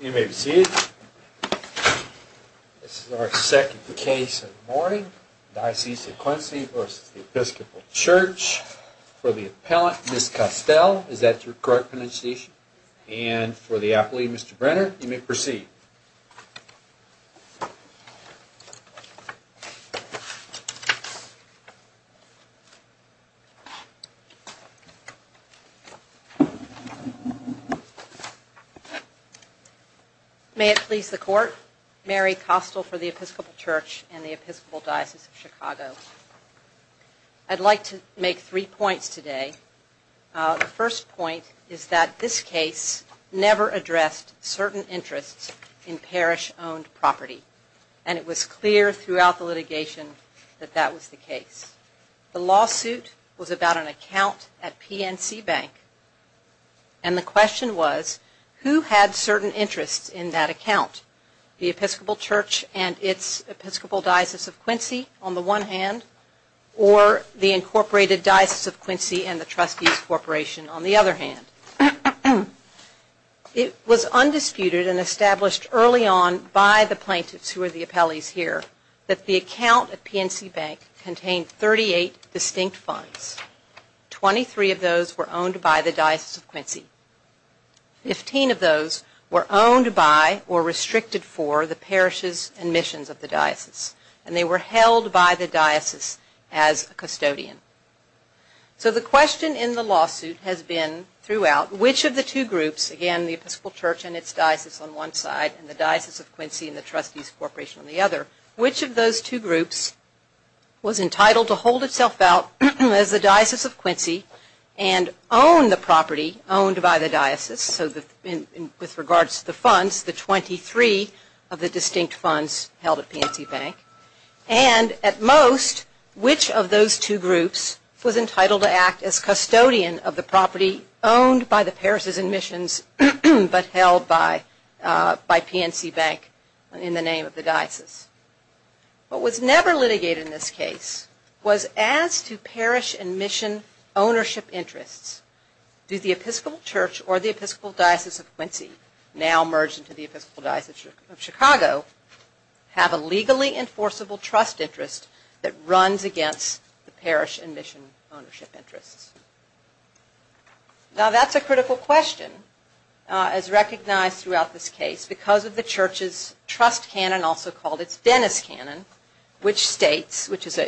You may proceed. This is our second case of the morning. Diocese of Quincy v. Episcopal Church. For the appellant, Ms. Costell. Is that your correct pronunciation? And for the appellee, Mr. Brenner, you may proceed. May it please the Court, Mary Costell for the Episcopal Church and the Episcopal Diocese of Chicago. I'd like to make three points today. The first point is that this case never addressed certain interests in parish-owned property, and it was clear throughout the litigation that that was the case. The lawsuit was about an account at PNC Bank, and the question was, who had certain interests in that account? The Episcopal Church and its Episcopal Diocese of Quincy, on the one hand, or the Incorporated Diocese of Quincy and the Trustees Corporation, on the other hand. It was undisputed and established early on by the plaintiffs, who are the appellees here, that the account at PNC Bank contained 38 distinct funds. Twenty-three of those were owned by the Diocese of Quincy. Fifteen of those were owned by or restricted for the parishes and missions of the diocese, and they were held by the diocese as custodian. So the question in the lawsuit has been throughout, which of the two groups, again, the Episcopal Church and its diocese on one side and the Diocese of Quincy and the Trustees Corporation on the other, which of those two groups was entitled to hold itself out as the Diocese of Quincy and own the property owned by the diocese? And so with regards to the funds, the 23 of the distinct funds held at PNC Bank. And at most, which of those two groups was entitled to act as custodian of the property owned by the parishes and missions, but held by PNC Bank in the name of the diocese? What was never litigated in this case was as to parish and mission ownership interests. Do the Episcopal Church or the Episcopal Diocese of Quincy, now merged into the Episcopal Diocese of Chicago, have a legally enforceable trust interest that runs against the parish and mission ownership interests? Now that's a critical question as recognized throughout this case because of the church's trust canon, also called its Dennis canon, which states, which is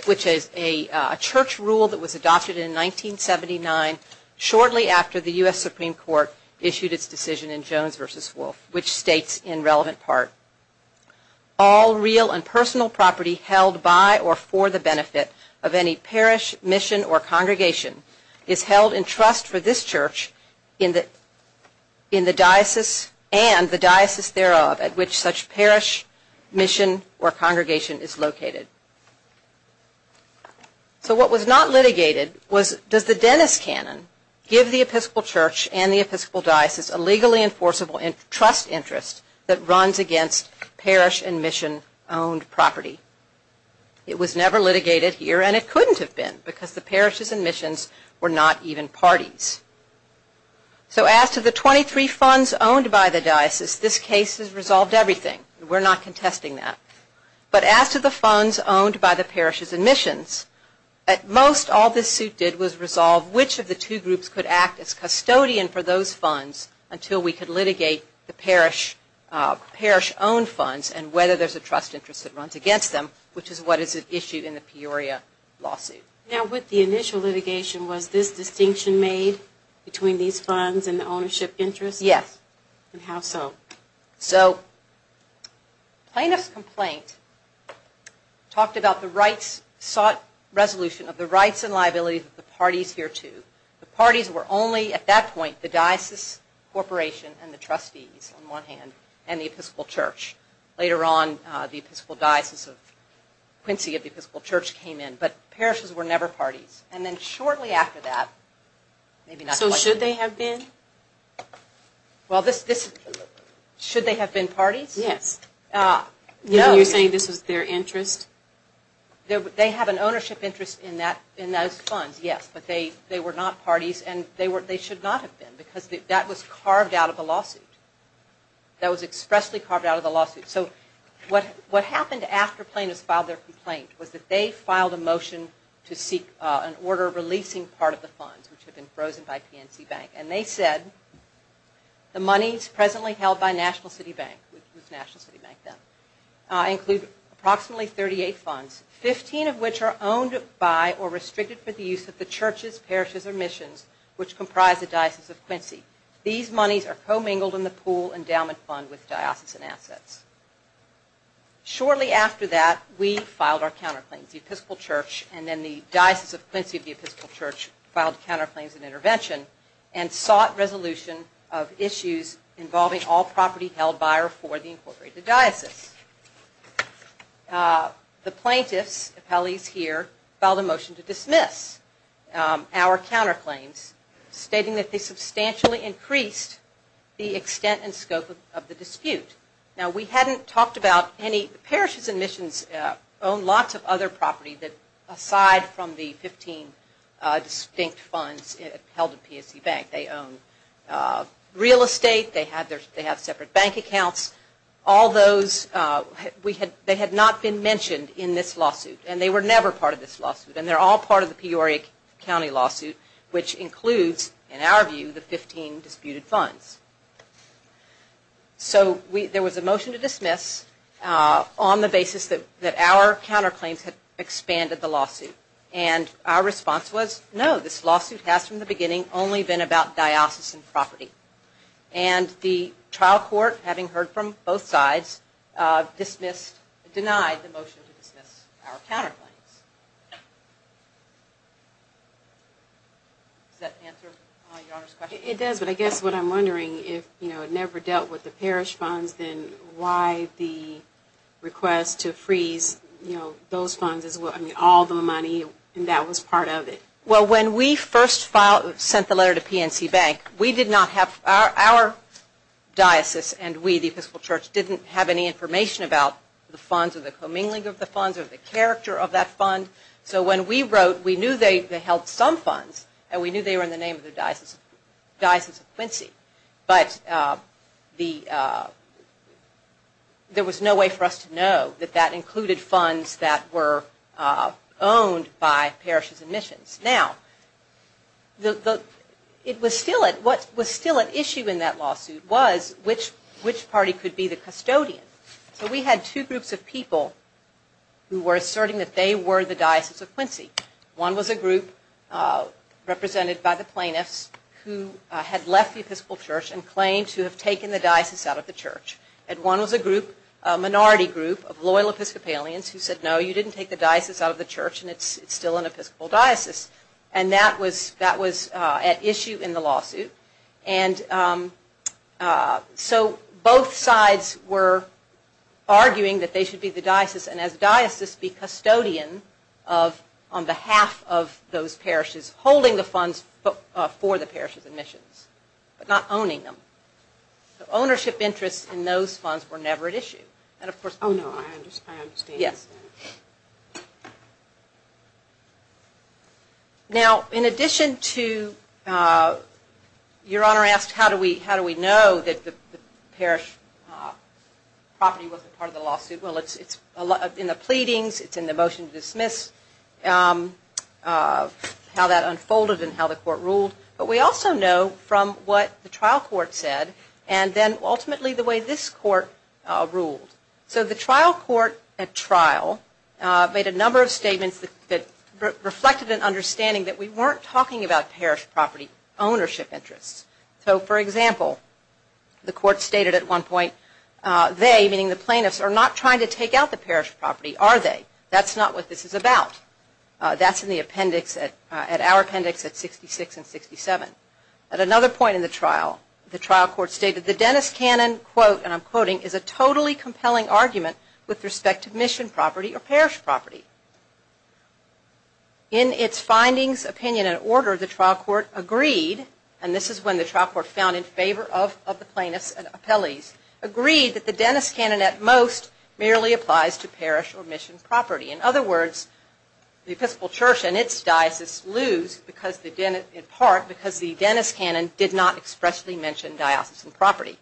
a church rule that was adopted in 1979 shortly after the U.S. Supreme Court issued its decision in Jones v. Wolfe, which states in relevant part, All real and personal property held by or for the benefit of any parish, mission, or congregation is held in trust for this church in the diocese and the diocese thereof at which such parish, mission, or congregation is located. So what was not litigated was does the Dennis canon give the Episcopal Church and the Episcopal Diocese a legally enforceable trust interest that runs against parish and mission owned property? It was never litigated here and it couldn't have been because the parishes and missions were not even parties. So as to the 23 funds owned by the diocese, this case has resolved everything. We're not contesting that. But as to the funds owned by the parishes and missions, at most all this suit did was resolve which of the two groups could act as custodian for those funds until we could litigate the parish-owned funds and whether there's a trust interest that runs against them, which is what is issued in the Peoria lawsuit. Now with the initial litigation was this distinction made between these funds and the ownership interest? Yes. And how so? So plaintiff's complaint talked about the rights, sought resolution of the rights and liabilities of the parties hereto. The parties were only at that point the diocese corporation and the trustees on one hand and the Episcopal Church. Later on the Episcopal Diocese of Quincy of the Episcopal Church came in. But parishes were never parties. And then shortly after that. So should they have been? Should they have been parties? Yes. No. You're saying this was their interest? They have an ownership interest in those funds, yes. But they were not parties and they should not have been because that was carved out of the lawsuit. That was expressly carved out of the lawsuit. So what happened after plaintiffs filed their complaint was that they filed a motion to seek an order releasing part of the funds which had been frozen by PNC Bank. And they said the monies presently held by National City Bank, which was National City Bank then, include approximately 38 funds, 15 of which are owned by or restricted for the use of the churches, parishes or missions which comprise the Diocese of Quincy. These monies are commingled in the pool endowment fund with diocesan assets. Shortly after that we filed our counterclaims. The Episcopal Church and then the Diocese of Quincy of the Episcopal Church filed counterclaims and intervention and sought resolution of issues involving all property held by or for the incorporated diocese. The plaintiffs, appellees here, filed a motion to dismiss our counterclaims stating that they substantially increased the extent and scope of the dispute. Now we hadn't talked about any, parishes and missions own lots of other property that aside from the 15 distinct funds held at PSC Bank. They own real estate, they have separate bank accounts. All those, they had not been mentioned in this lawsuit and they were never part of this lawsuit and they're all part of the Peoria County lawsuit which includes, in our view, the 15 disputed funds. So there was a motion to dismiss on the basis that our counterclaims had expanded the lawsuit and our response was no, this lawsuit has from the beginning only been about diocesan property. And the trial court, having heard from both sides, dismissed, denied the motion to dismiss our counterclaims. Does that answer your Honor's question? It does, but I guess what I'm wondering is, you know, it never dealt with the parish funds, then why the request to freeze, you know, those funds as well, I mean all the money and that was part of it. Well, when we first sent the letter to PNC Bank, we did not have, our diocese and we, the Episcopal Church, didn't have any information about the funds or the commingling of the funds or the character of that fund. So when we wrote, we knew they held some funds and we knew they were in the name of the Diocese of Quincy, but there was no way for us to know that that included funds that were owned by parishes and missions. Now, what was still at issue in that lawsuit was which party could be the custodian. So we had two groups of people who were asserting that they were the Diocese of Quincy. One was a group represented by the plaintiffs who had left the Episcopal Church and claimed to have taken the diocese out of the church. And one was a group, a minority group of loyal Episcopalians who said, no, you didn't take the diocese out of the church and it's still an Episcopal diocese. And that was at issue in the lawsuit. And so both sides were arguing that they should be the diocese and as diocese be custodian on behalf of those parishes, holding the funds for the parishes and missions, but not owning them. So ownership interests in those funds were never at issue. Oh, no, I understand. Now, in addition to, Your Honor asked how do we know that the parish property wasn't part of the lawsuit. Well, it's in the pleadings, it's in the motion to dismiss, how that unfolded and how the court ruled. But we also know from what the trial court said and then ultimately the way this court ruled. So the trial court at trial made a number of statements that reflected an understanding that we weren't talking about parish property ownership interests. So, for example, the court stated at one point, they, meaning the plaintiffs, are not trying to take out the parish property, are they? That's not what this is about. That's in the appendix, at our appendix at 66 and 67. At another point in the trial, the trial court stated the Dennis Cannon quote, and I'm quoting, is a totally compelling argument with respect to mission property or parish property. In its findings, opinion, and order, the trial court agreed, and this is when the trial court found in favor of the plaintiffs and appellees, agreed that the Dennis Cannon at most merely applies to parish or mission property. In other words, the Episcopal Church and its diocese lose in part because the Dennis Cannon did not expressly mention diocesan property.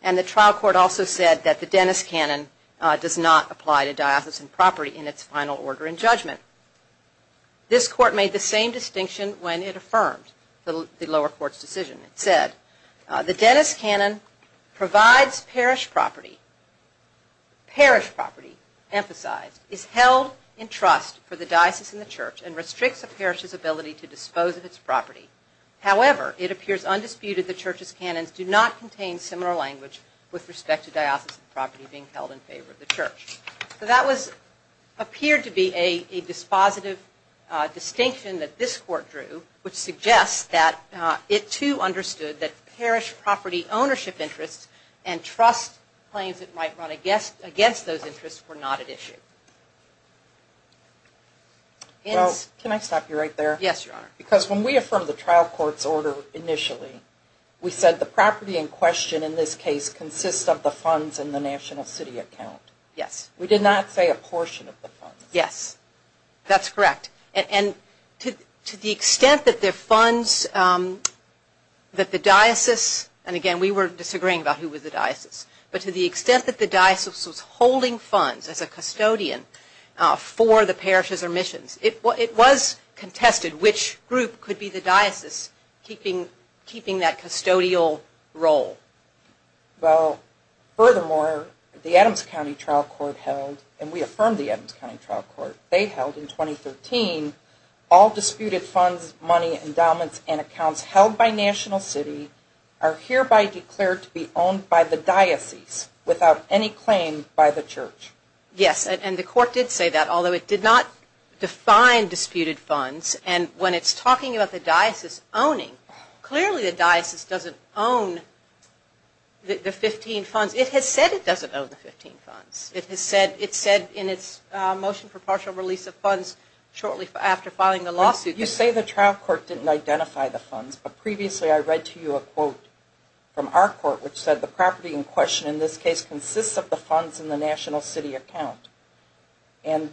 And the trial court also said that the Dennis Cannon does not apply to diocesan property in its final order in judgment. This court made the same distinction when it affirmed the lower court's decision. It said, the Dennis Cannon provides parish property, parish property emphasized, is held in trust for the diocese and the church and restricts a parish's ability to dispose of its property. However, it appears undisputed the church's cannons do not contain similar language with respect to diocesan property being held in favor of the church. So that appeared to be a dispositive distinction that this court drew, which suggests that it too understood that parish property ownership interests and trust claims that might run against those interests were not at issue. Can I stop you right there? Yes, Your Honor. Because when we affirmed the trial court's order initially, we said the property in question in this case consists of the funds in the national city account. Yes. We did not say a portion of the funds. Yes, that's correct. And to the extent that the funds that the diocese, and again we were disagreeing about who was the diocese, but to the extent that the diocese was holding funds as a custodian for the parishes or missions, it was contested which group could be the diocese keeping that custodial role. Well, furthermore, the Adams County Trial Court held, and we affirmed the Adams County Trial Court, they held in 2013, all disputed funds, money, endowments, and accounts held by national city are hereby declared to be owned by the diocese without any claim by the church. Yes, and the court did say that, although it did not define disputed funds. And when it's talking about the diocese owning, clearly the diocese doesn't own the 15 funds. It has said it doesn't own the 15 funds. It said in its motion for partial release of funds shortly after filing the lawsuit. You say the trial court didn't identify the funds, but previously I read to you a quote from our court which said the property in question in this case consists of the funds in the national city account. And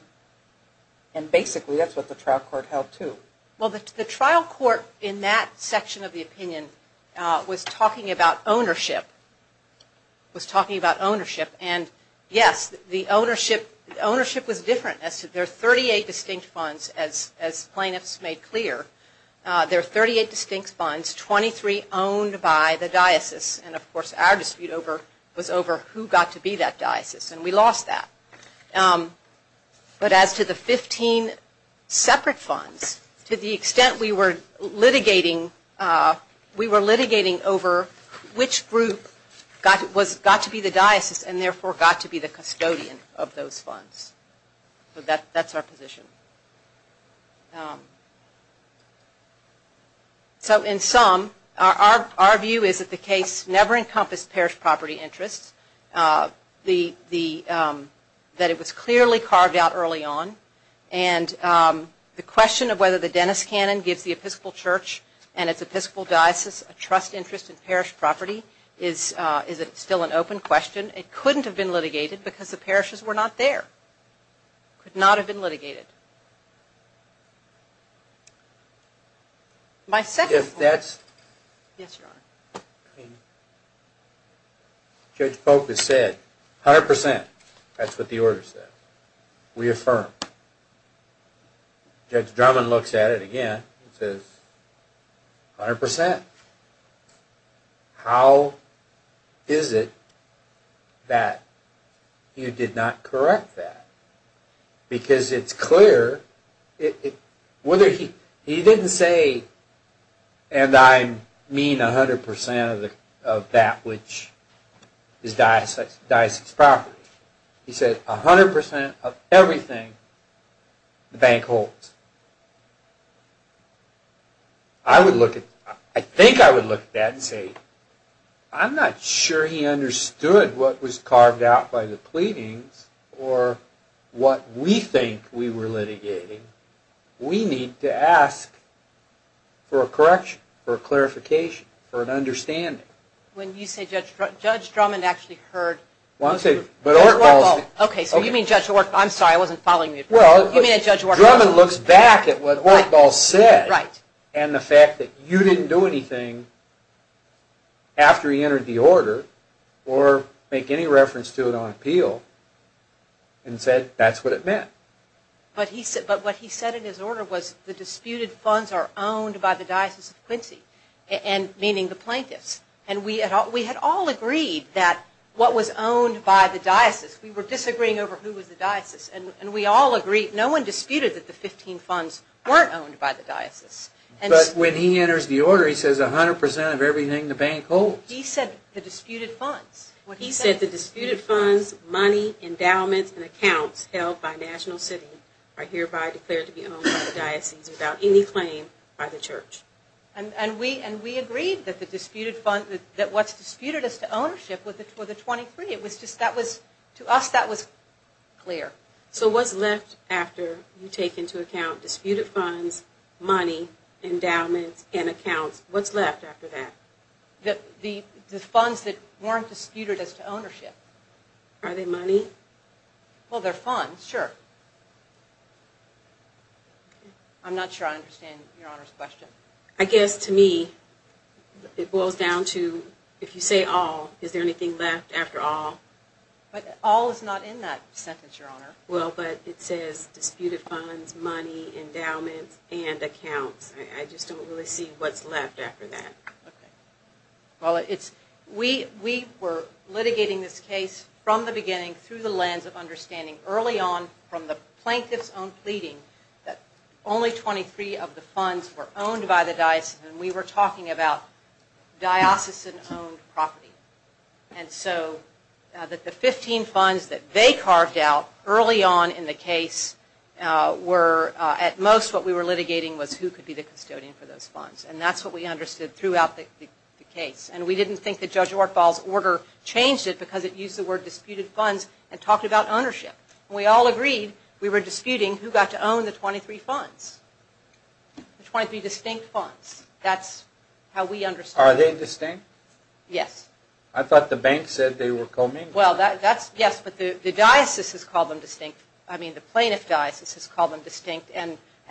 basically that's what the trial court held too. Well, the trial court in that section of the opinion was talking about ownership. And yes, the ownership was different. There are 38 distinct funds, as plaintiffs made clear. There are 38 distinct funds, 23 owned by the diocese. And of course our dispute was over who got to be that diocese, and we lost that. But as to the 15 separate funds, to the extent we were litigating over which group got to be the diocese and therefore got to be the custodian of those funds. So that's our position. So in sum, our view is that the case never encompassed parish property interests. That it was clearly carved out early on. And the question of whether the Dennis Cannon gives the Episcopal Church and its Episcopal Diocese a trust interest in parish property is still an open question. It couldn't have been litigated because the parishes were not there. Could not have been litigated. Judge Polk has said 100%. That's what the order says. We affirm. Judge Drummond looks at it again and says 100%. How is it that you did not correct that? Because it's clear. He didn't say, and I mean 100% of that which is diocese property. He said 100% of everything the bank holds. I think I would look at that and say, I'm not sure he understood what was carved out by the pleadings or what we think we were litigating. We need to ask for a correction, for a clarification, for an understanding. When you say Judge Drummond actually heard... Well, I'm saying... Okay, so you mean Judge... I'm sorry, I wasn't following you. Well, Judge Drummond looks back at what Ortdahl said and the fact that you didn't do anything after he entered the order or make any reference to it on appeal and said that's what it meant. But what he said in his order was the disputed funds are owned by the Diocese of Quincy, meaning the plaintiffs. And we had all agreed that what was owned by the diocese, we were disagreeing over who was the diocese, and we all agreed, no one disputed that the 15 funds weren't owned by the diocese. But when he enters the order he says 100% of everything the bank holds. He said the disputed funds. He said the disputed funds, money, endowments, and accounts held by National City are hereby declared to be owned by the diocese without any claim by the church. And we agreed that what's disputed as to ownership were the 23. To us that was clear. So what's left after you take into account disputed funds, money, endowments, and accounts, what's left after that? The funds that weren't disputed as to ownership. Are they money? Well, they're funds, sure. I'm not sure I understand Your Honor's question. I guess to me it boils down to if you say all, is there anything left after all? But all is not in that sentence, Your Honor. Well, but it says disputed funds, money, endowments, and accounts. I just don't really see what's left after that. Well, we were litigating this case from the beginning through the lens of understanding early on from the plaintiff's own pleading that only 23 of the funds were owned by the diocese, and we were talking about diocesan owned property. And so that the 15 funds that they carved out early on in the case were at most what we were litigating was who could be the custodian for those funds. And that's what we understood throughout the case. And we didn't think that Judge Ortbal's order changed it because it used the word disputed funds and talked about ownership. We all agreed we were disputing who got to own the 23 funds, the 23 distinct funds. That's how we understood it. Are they distinct? Yes. I thought the bank said they were commingled. Well, yes, but the diocese has called them distinct. I mean, the plaintiff's diocese has called them distinct.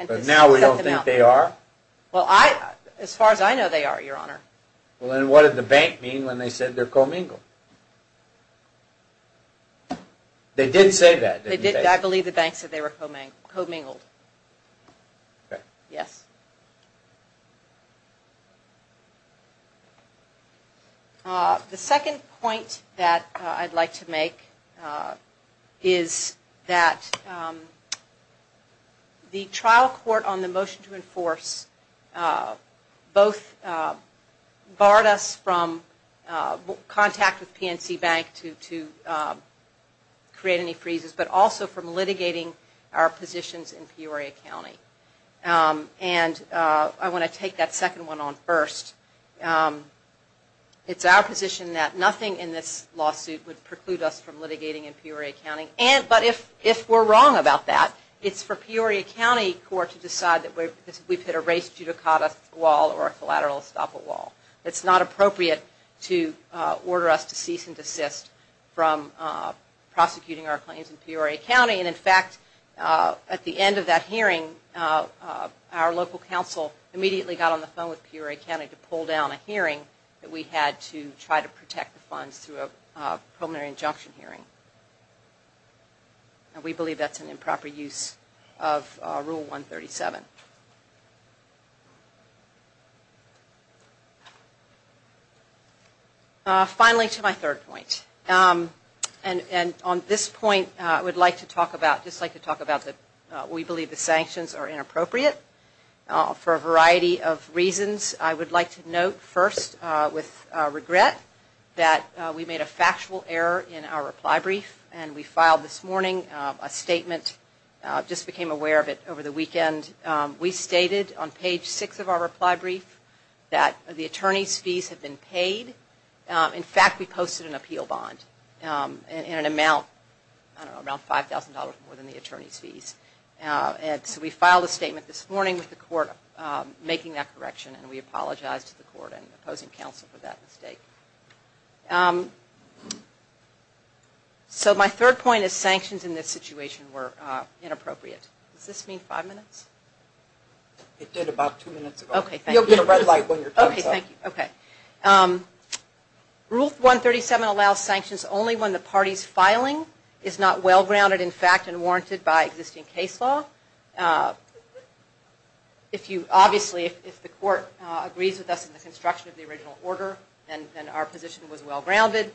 But now we don't think they are? Well, as far as I know, they are, Your Honor. Well, then what did the bank mean when they said they're commingled? They did say that, didn't they? I believe the bank said they were commingled. Okay. Yes. The second point that I'd like to make is that the trial court on the motion to enforce both barred us from contact with PNC Bank to create any freezes but also from litigating our positions in Peoria County. And I want to take that second one on first. It's our position that nothing in this lawsuit would preclude us from litigating in Peoria County. But if we're wrong about that, it's for Peoria County Court to decide that we've hit a race judicata wall or a collateral estoppel wall. It's not appropriate to order us to cease and desist from prosecuting our claims in Peoria County. And, in fact, at the end of that hearing, our local council immediately got on the phone with Peoria County to pull down a hearing that we had to try to protect the funds through a preliminary injunction hearing. And we believe that's an improper use of Rule 137. Finally, to my third point. And on this point, I would just like to talk about that we believe the sanctions are inappropriate for a variety of reasons. I would like to note first with regret that we made a factual error in our reply brief and we filed this morning a statement, just became aware of it over the weekend. We stated on page six of our reply brief that the attorney's fees have been paid. In fact, we posted an appeal bond in an amount, I don't know, around $5,000 more than the attorney's fees. And so we filed a statement this morning with the court making that correction and we apologized to the court and opposing counsel for that mistake. So my third point is sanctions in this situation were inappropriate. Does this mean five minutes? It did about two minutes ago. Okay, thank you. You'll get a red light when your time's up. Okay, thank you. Okay. Rule 137 allows sanctions only when the party's filing is not well-grounded in fact and warranted by existing case law. Obviously, if the court agrees with us in the construction of the original order, then our position was well-grounded.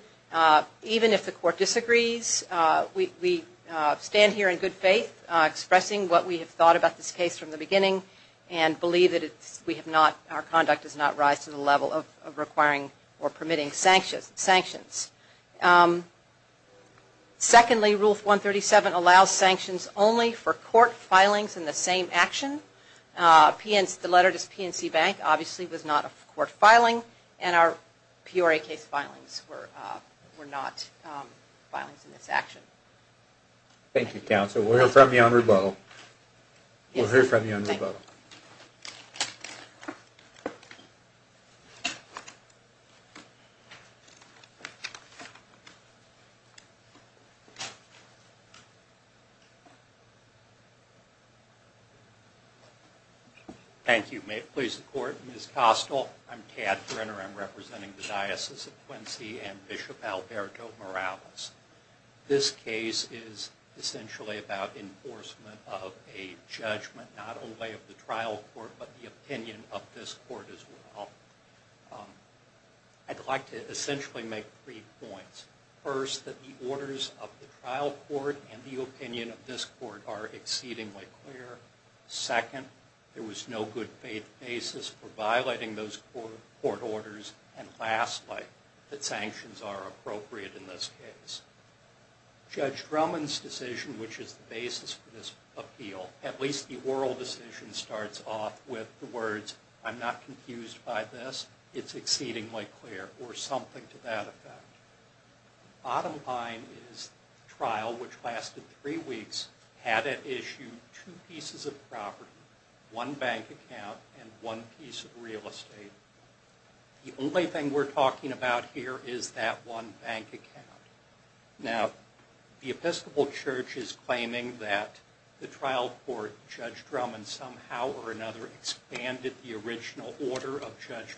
Even if the court disagrees, we stand here in good faith, expressing what we have thought about this case from the beginning and believe that our conduct does not rise to the level of requiring or permitting sanctions. Secondly, Rule 137 allows sanctions only for court filings in the same action. The letter to PNC Bank obviously was not a court filing, and our PRA case filings were not filings in this action. Thank you, Counsel. We'll hear from you on rebuttal. We'll hear from you on rebuttal. Thank you. May it please the Court. Ms. Kostel, I'm Tad Brenner. I'm representing the Diocese of Quincy and Bishop Alberto Morales. This case is essentially about enforcement of a judgment, not only of the trial court, but the opinion of this court as well. I'd like to essentially make three points. First, that the orders of the trial court and the opinion of this court are exceedingly clear. Second, there was no good faith basis for violating those court orders. And lastly, that sanctions are appropriate in this case. Judge Drummond's decision, which is the basis for this appeal, at least the oral decision, starts off with the words, I'm not confused by this, it's exceedingly clear, or something to that effect. Bottom line is the trial, which lasted three weeks, had at issue two pieces of property, one bank account, and one piece of real estate. The only thing we're talking about here is that one bank account. Now, the Episcopal Church is claiming that the trial court, Judge Drummond, somehow or another, expanded the original order of Judge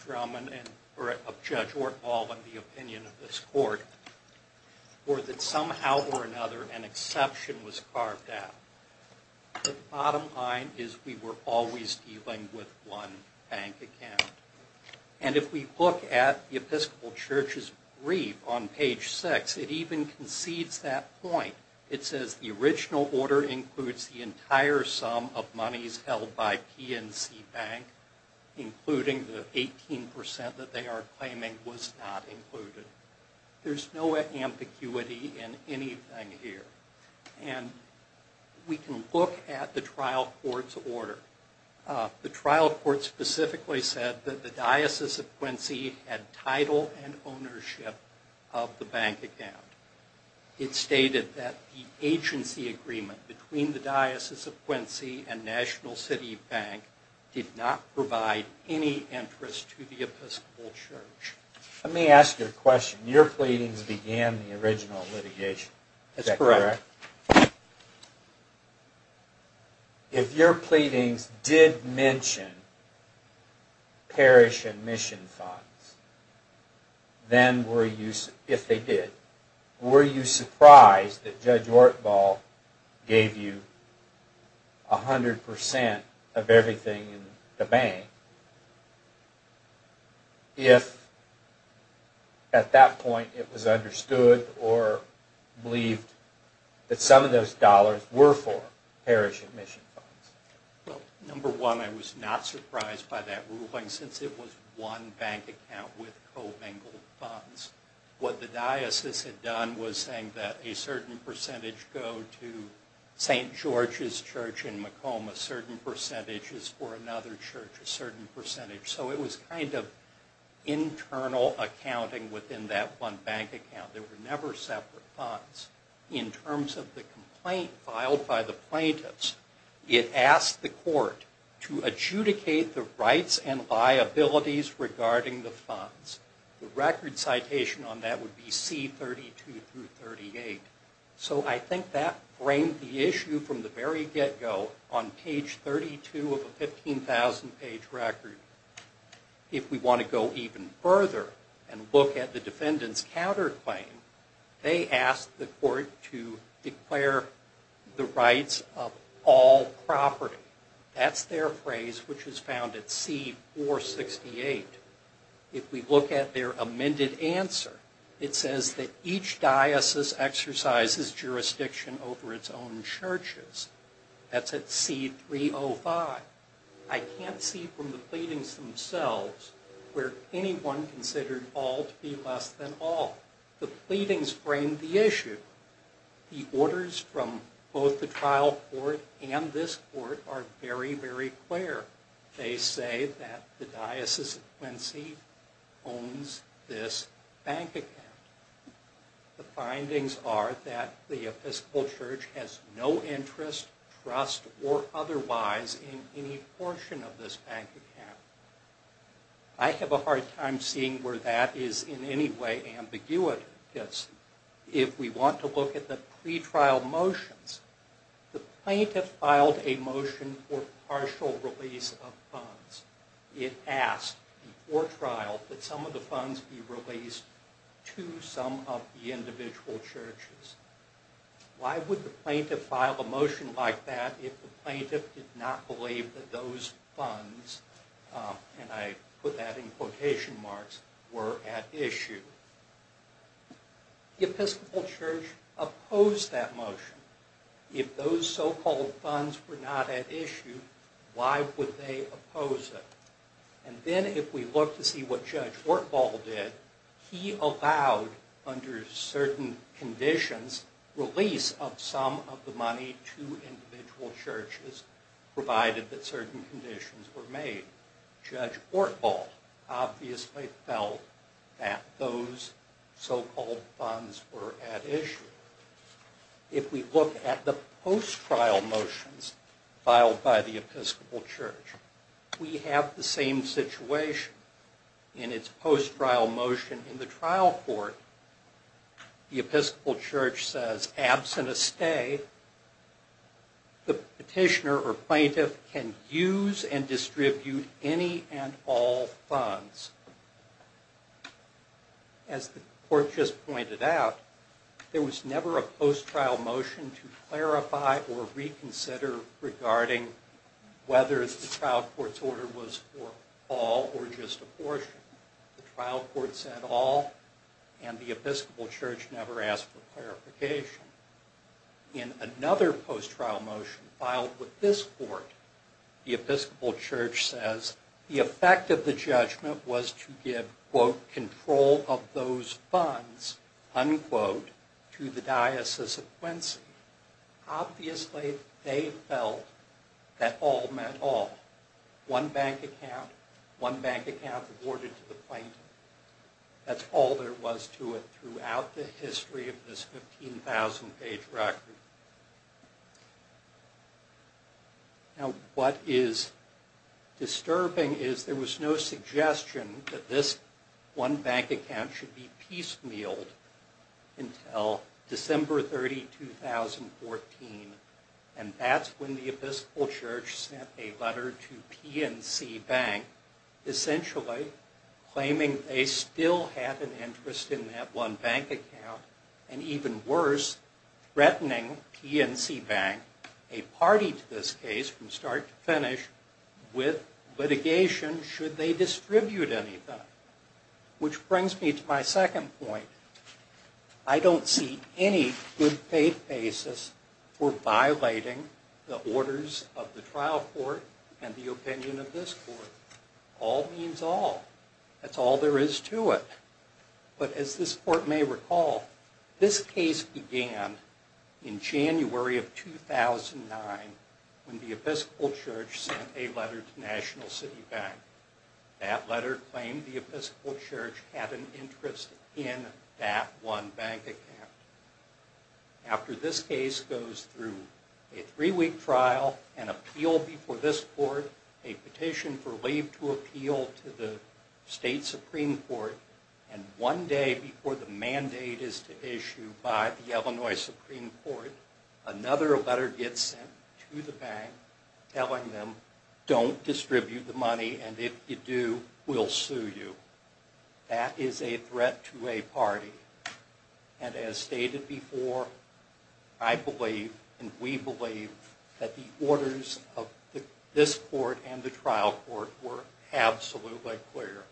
Ortahl and the opinion of this court, or that somehow or another an exception was carved out. The bottom line is we were always dealing with one bank account. And if we look at the Episcopal Church's brief on page six, it even concedes that point. It says the original order includes the entire sum of monies held by PNC Bank, including the 18% that they are claiming was not included. There's no ambiguity in anything here. And we can look at the trial court's order. The trial court specifically said that the Diocese of Quincy had title and ownership of the bank account. It stated that the agency agreement between the Diocese of Quincy and National City Bank did not provide any interest to the Episcopal Church. Let me ask you a question. Your pleadings began the original litigation. Is that correct? That's correct. If your pleadings did mention parish admission funds, if they did, were you surprised that Judge Ortahl gave you 100% of everything in the bank? If at that point it was understood or believed that some of those dollars were for parish admission funds? Well, number one, I was not surprised by that ruling since it was one bank account with co-bingled funds. What the diocese had done was saying that a certain percentage go to St. George's Church in Macomb, a certain percentage is for another church, a certain percentage. So it was kind of internal accounting within that one bank account. They were never separate funds. In terms of the complaint filed by the plaintiffs, it asked the court to adjudicate the rights and liabilities regarding the funds. The record citation on that would be C32 through 38. So I think that framed the issue from the very get-go. On page 32 of a 15,000-page record, if we want to go even further and look at the defendant's counterclaim, they asked the court to declare the rights of all property. That's their phrase, which is found at C468. If we look at their amended answer, it says that each diocese exercises jurisdiction over its own churches. That's at C305. I can't see from the pleadings themselves where anyone considered all to be less than all. The pleadings framed the issue. The orders from both the trial court and this court are very, very clear. They say that the Diocese of Quincy owns this bank account. The findings are that the Episcopal Church has no interest, trust, or otherwise in any portion of this bank account. I have a hard time seeing where that is in any way ambiguous. If we want to look at the pretrial motions, the plaintiff filed a motion for partial release of funds. It asked before trial that some of the funds be released to some of the individual churches. Why would the plaintiff file a motion like that if the plaintiff did not believe that those funds, and I put that in quotation marks, were at issue? The Episcopal Church opposed that motion. If those so-called funds were not at issue, why would they oppose it? Then if we look to see what Judge Ortval did, he allowed under certain conditions release of some of the money to individual churches, provided that certain conditions were made. Judge Ortval obviously felt that those so-called funds were at issue. If we look at the post-trial motions filed by the Episcopal Church, we have the same situation in its post-trial motion in the trial court. The Episcopal Church says, absent a stay, the petitioner or plaintiff can use and distribute any and all funds. As the court just pointed out, there was never a post-trial motion to clarify or reconsider regarding whether the trial court's order was for all or just a portion. The trial court said all, and the Episcopal Church never asked for clarification. In another post-trial motion filed with this court, the Episcopal Church says, the effect of the judgment was to give, quote, control of those funds, unquote, to the Diocese of Quincy. Obviously, they felt that all meant all. One bank account, one bank account awarded to the plaintiff. That's all there was to it throughout the history of this 15,000-page record. Now, what is disturbing is there was no suggestion that this one bank account should be piecemealed until December 30, 2014, and that's when the Episcopal Church sent a letter to PNC Bank, essentially claiming they still have an interest in that one bank account and even worse, threatening PNC Bank, a party to this case from start to finish, with litigation should they distribute any of that. Which brings me to my second point. I don't see any good faith basis for violating the orders of the trial court and the opinion of this court. All means all. That's all there is to it. But as this court may recall, this case began in January of 2009 when the Episcopal Church sent a letter to National City Bank. That letter claimed the Episcopal Church had an interest in that one bank account. After this case goes through a three-week trial, an appeal before this court, a petition for leave to appeal to the state Supreme Court, and one day before the mandate is to issue by the Illinois Supreme Court, another letter gets sent to the bank telling them don't distribute the money and if you do, we'll sue you. That is a threat to a party. And as stated before, I believe and we believe that the orders of this court and the trial court were absolutely clear.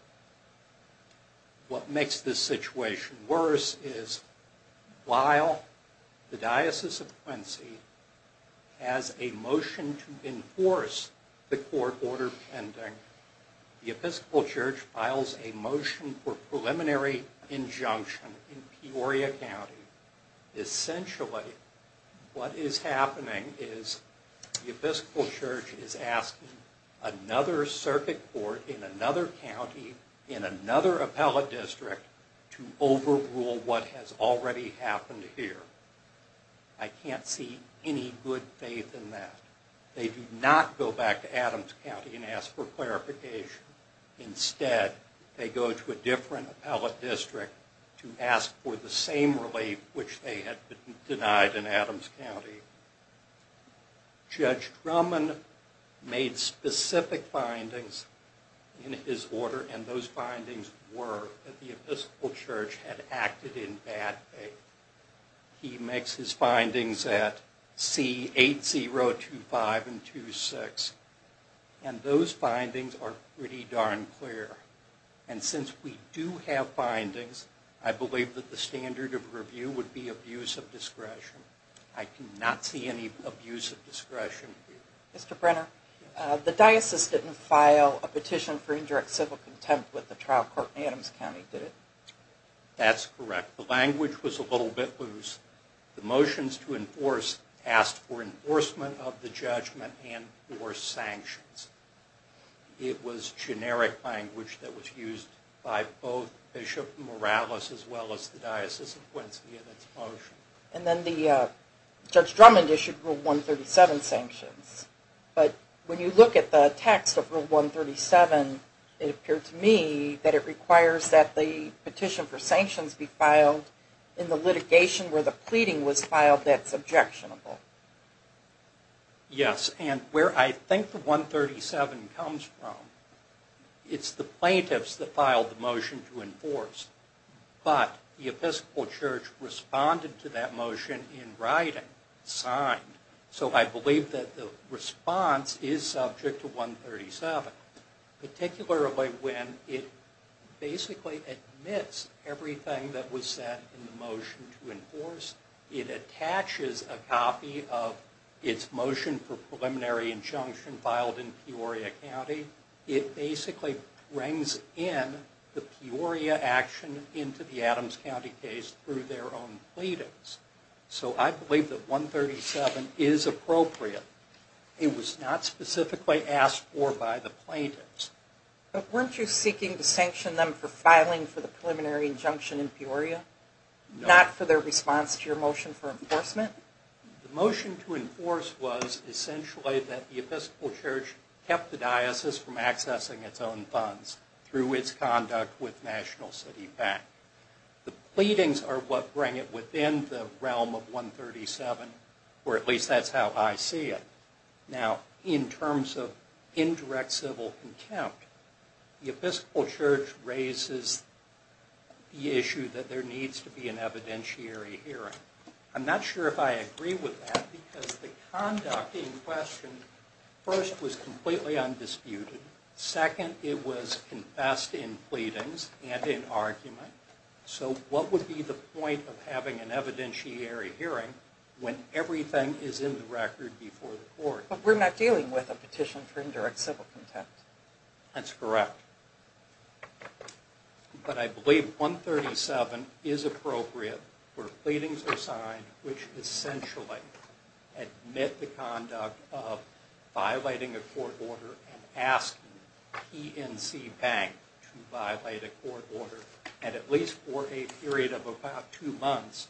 What makes this situation worse is while the Diocese of Quincy has a motion to enforce the court order pending, the Episcopal Church files a motion for preliminary injunction in Peoria County. Essentially what is happening is the Episcopal Church is asking another circuit court in another county, in another appellate district, to overrule what has already happened here. I can't see any good faith in that. They do not go back to Adams County and ask for clarification. Instead, they go to a different appellate district to ask for the same relief which they had denied in Adams County. Judge Drummond made specific findings in his order and those findings were that the Episcopal Church had acted in bad faith. He makes his findings at C8025 and 26. And those findings are pretty darn clear. And since we do have findings, I believe that the standard of review would be abuse of discretion. I do not see any abuse of discretion here. Mr. Brenner, the diocese didn't file a petition for indirect civil contempt with the trial court in Adams County, did it? That's correct. The language was a little bit loose. The motions to enforce asked for enforcement of the judgment and for sanctions. It was generic language that was used by both Bishop Morales as well as the Diocese of Quincy in its motion. And then Judge Drummond issued Rule 137 sanctions. But when you look at the text of Rule 137, it appeared to me that it requires that the petition for sanctions be filed in the litigation where the pleading was filed that's objectionable. Yes. And where I think the 137 comes from, it's the plaintiffs that filed the motion to enforce. But the Episcopal Church responded to that motion in writing, signed. So I believe that the response is subject to 137. Particularly when it basically admits everything that was said in the motion to enforce. It attaches a copy of its motion for preliminary injunction filed in Peoria County. It basically brings in the Peoria action into the Adams County case through their own pleadings. So I believe that 137 is appropriate. It was not specifically asked for by the plaintiffs. But weren't you seeking to sanction them for filing for the preliminary injunction in Peoria? No. Not for their response to your motion for enforcement? The motion to enforce was essentially that the Episcopal Church kept the diocese from accessing its own funds through its conduct with National City Bank. The pleadings are what bring it within the realm of 137, or at least that's how I see it. Now, in terms of indirect civil contempt, the Episcopal Church raises the issue that there needs to be an evidentiary hearing. I'm not sure if I agree with that because the conduct in question first was completely undisputed. Second, it was confessed in pleadings and in argument. So what would be the point of having an evidentiary hearing when everything is in the record before the court? But we're not dealing with a petition for indirect civil contempt. That's correct. But I believe 137 is appropriate where pleadings are signed which essentially admit the conduct of violating a court order and asking PNC Bank to violate a court order at least for a period of about two months,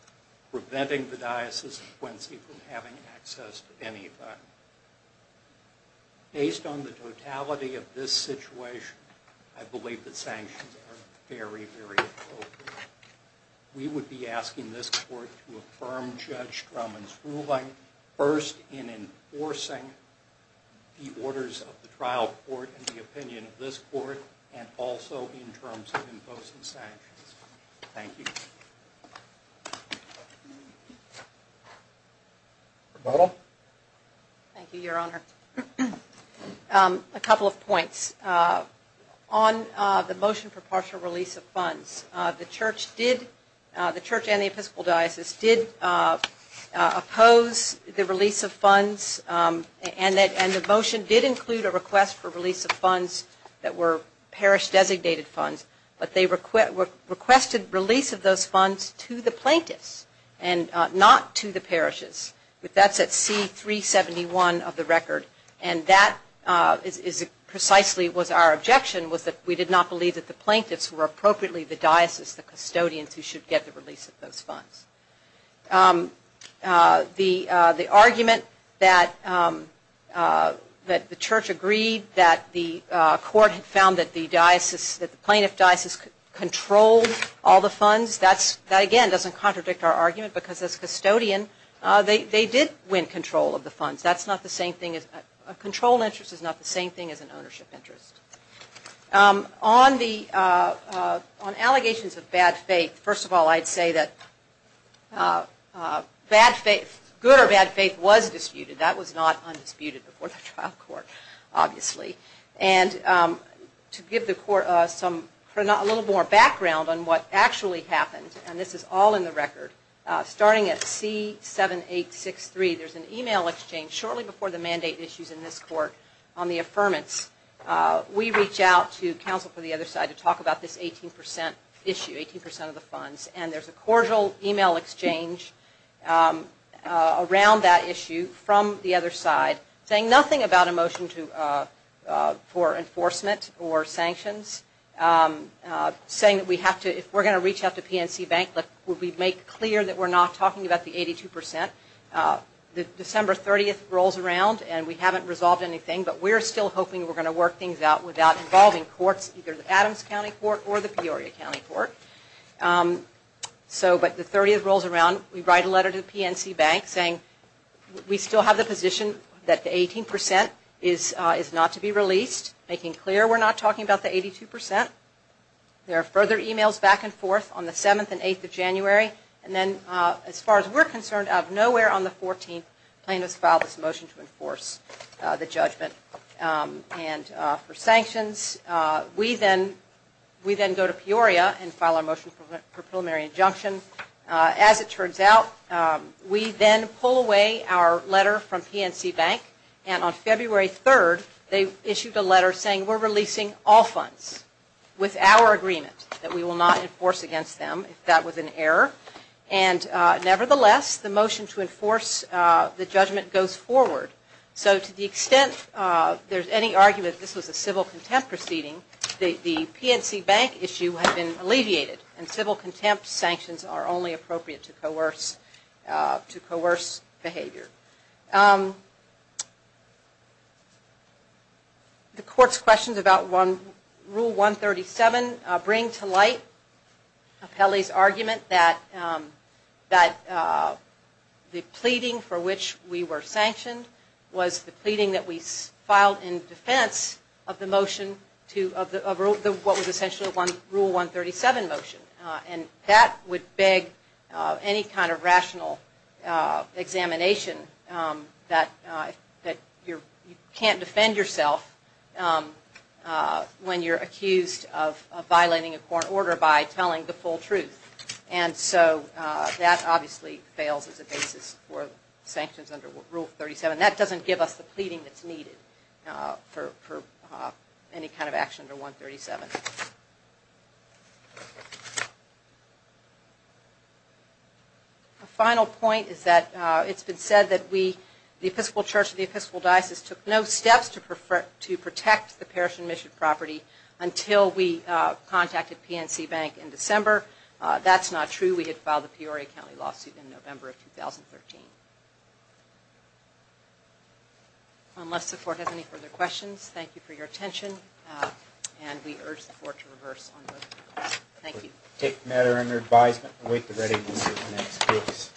preventing the diocese of Quincy from having access to anything. Based on the totality of this situation, I believe the sanctions are very, very appropriate. We would be asking this court to affirm Judge Drummond's ruling, first in enforcing the orders of the trial court and the opinion of this court, and also in terms of imposing sanctions. Thank you. Rebuttal? Thank you, Your Honor. A couple of points. On the motion for partial release of funds, the Church and the Episcopal Diocese did oppose the release of funds and the motion did include a request for release of funds that were parish-designated funds, but they requested release of those funds to the plaintiffs and not to the parishes. That's at C-371 of the record. And that precisely was our objection, was that we did not believe that the plaintiffs were appropriately the diocese, the custodians, who should get the release of those funds. The argument that the Church agreed that the court had found that the diocese, that the plaintiff diocese controlled all the funds, that again doesn't contradict our argument because as custodian, they did win control of the funds. A controlled interest is not the same thing as an ownership interest. On allegations of bad faith, first of all, I'd say that good or bad faith was disputed. That was not undisputed before the trial court, obviously. And to give the court a little more background on what actually happened, and this is all in the record, starting at C-7863, there's an email exchange shortly before the mandate issues in this court on the affirmance. We reach out to counsel for the other side to talk about this 18% issue, 18% of the funds, and there's a cordial email exchange around that issue from the other side saying nothing about a motion for enforcement or sanctions, saying that if we're going to reach out to PNC Bank, that we make clear that we're not talking about the 82%. The December 30th rolls around and we haven't resolved anything, but we're still hoping we're going to work things out without involving courts, either the Adams County Court or the Peoria County Court. But the 30th rolls around, we write a letter to PNC Bank saying we still have the position that the 18% is not to be released, making clear we're not talking about the 82%. There are further emails back and forth on the 7th and 8th of January, and then as far as we're concerned, out of nowhere on the 14th, plaintiffs filed this motion to enforce the judgment. And for sanctions, we then go to Peoria and file our motion for preliminary injunction. As it turns out, we then pull away our letter from PNC Bank, and on February 3rd, they issued a letter saying we're releasing all funds with our agreement that we will not enforce against them if that was an error. And nevertheless, the motion to enforce the judgment goes forward. So to the extent there's any argument that this was a civil contempt proceeding, the PNC Bank issue has been alleviated, and civil contempt sanctions are only appropriate to coerce behavior. The court's questions about Rule 137 bring to light Apelli's argument that the pleading for which we were sanctioned was the pleading that we filed in defense of the motion of what was essentially a Rule 137 motion. And that would beg any kind of rational examination that you can't defend yourself when you're accused of violating a court order by telling the full truth. And so that obviously fails as a basis for sanctions under Rule 137. A final point is that it's been said that the Episcopal Church and the Episcopal Diocese took no steps to protect the parish and mission property until we contacted PNC Bank in December. That's not true. We had filed a Peoria County lawsuit in November of 2013. Unless the court has any further questions, thank you for your attention, and we urge the court to reverse on those. Thank you. We take the matter under advisement and await the readiness of the next case.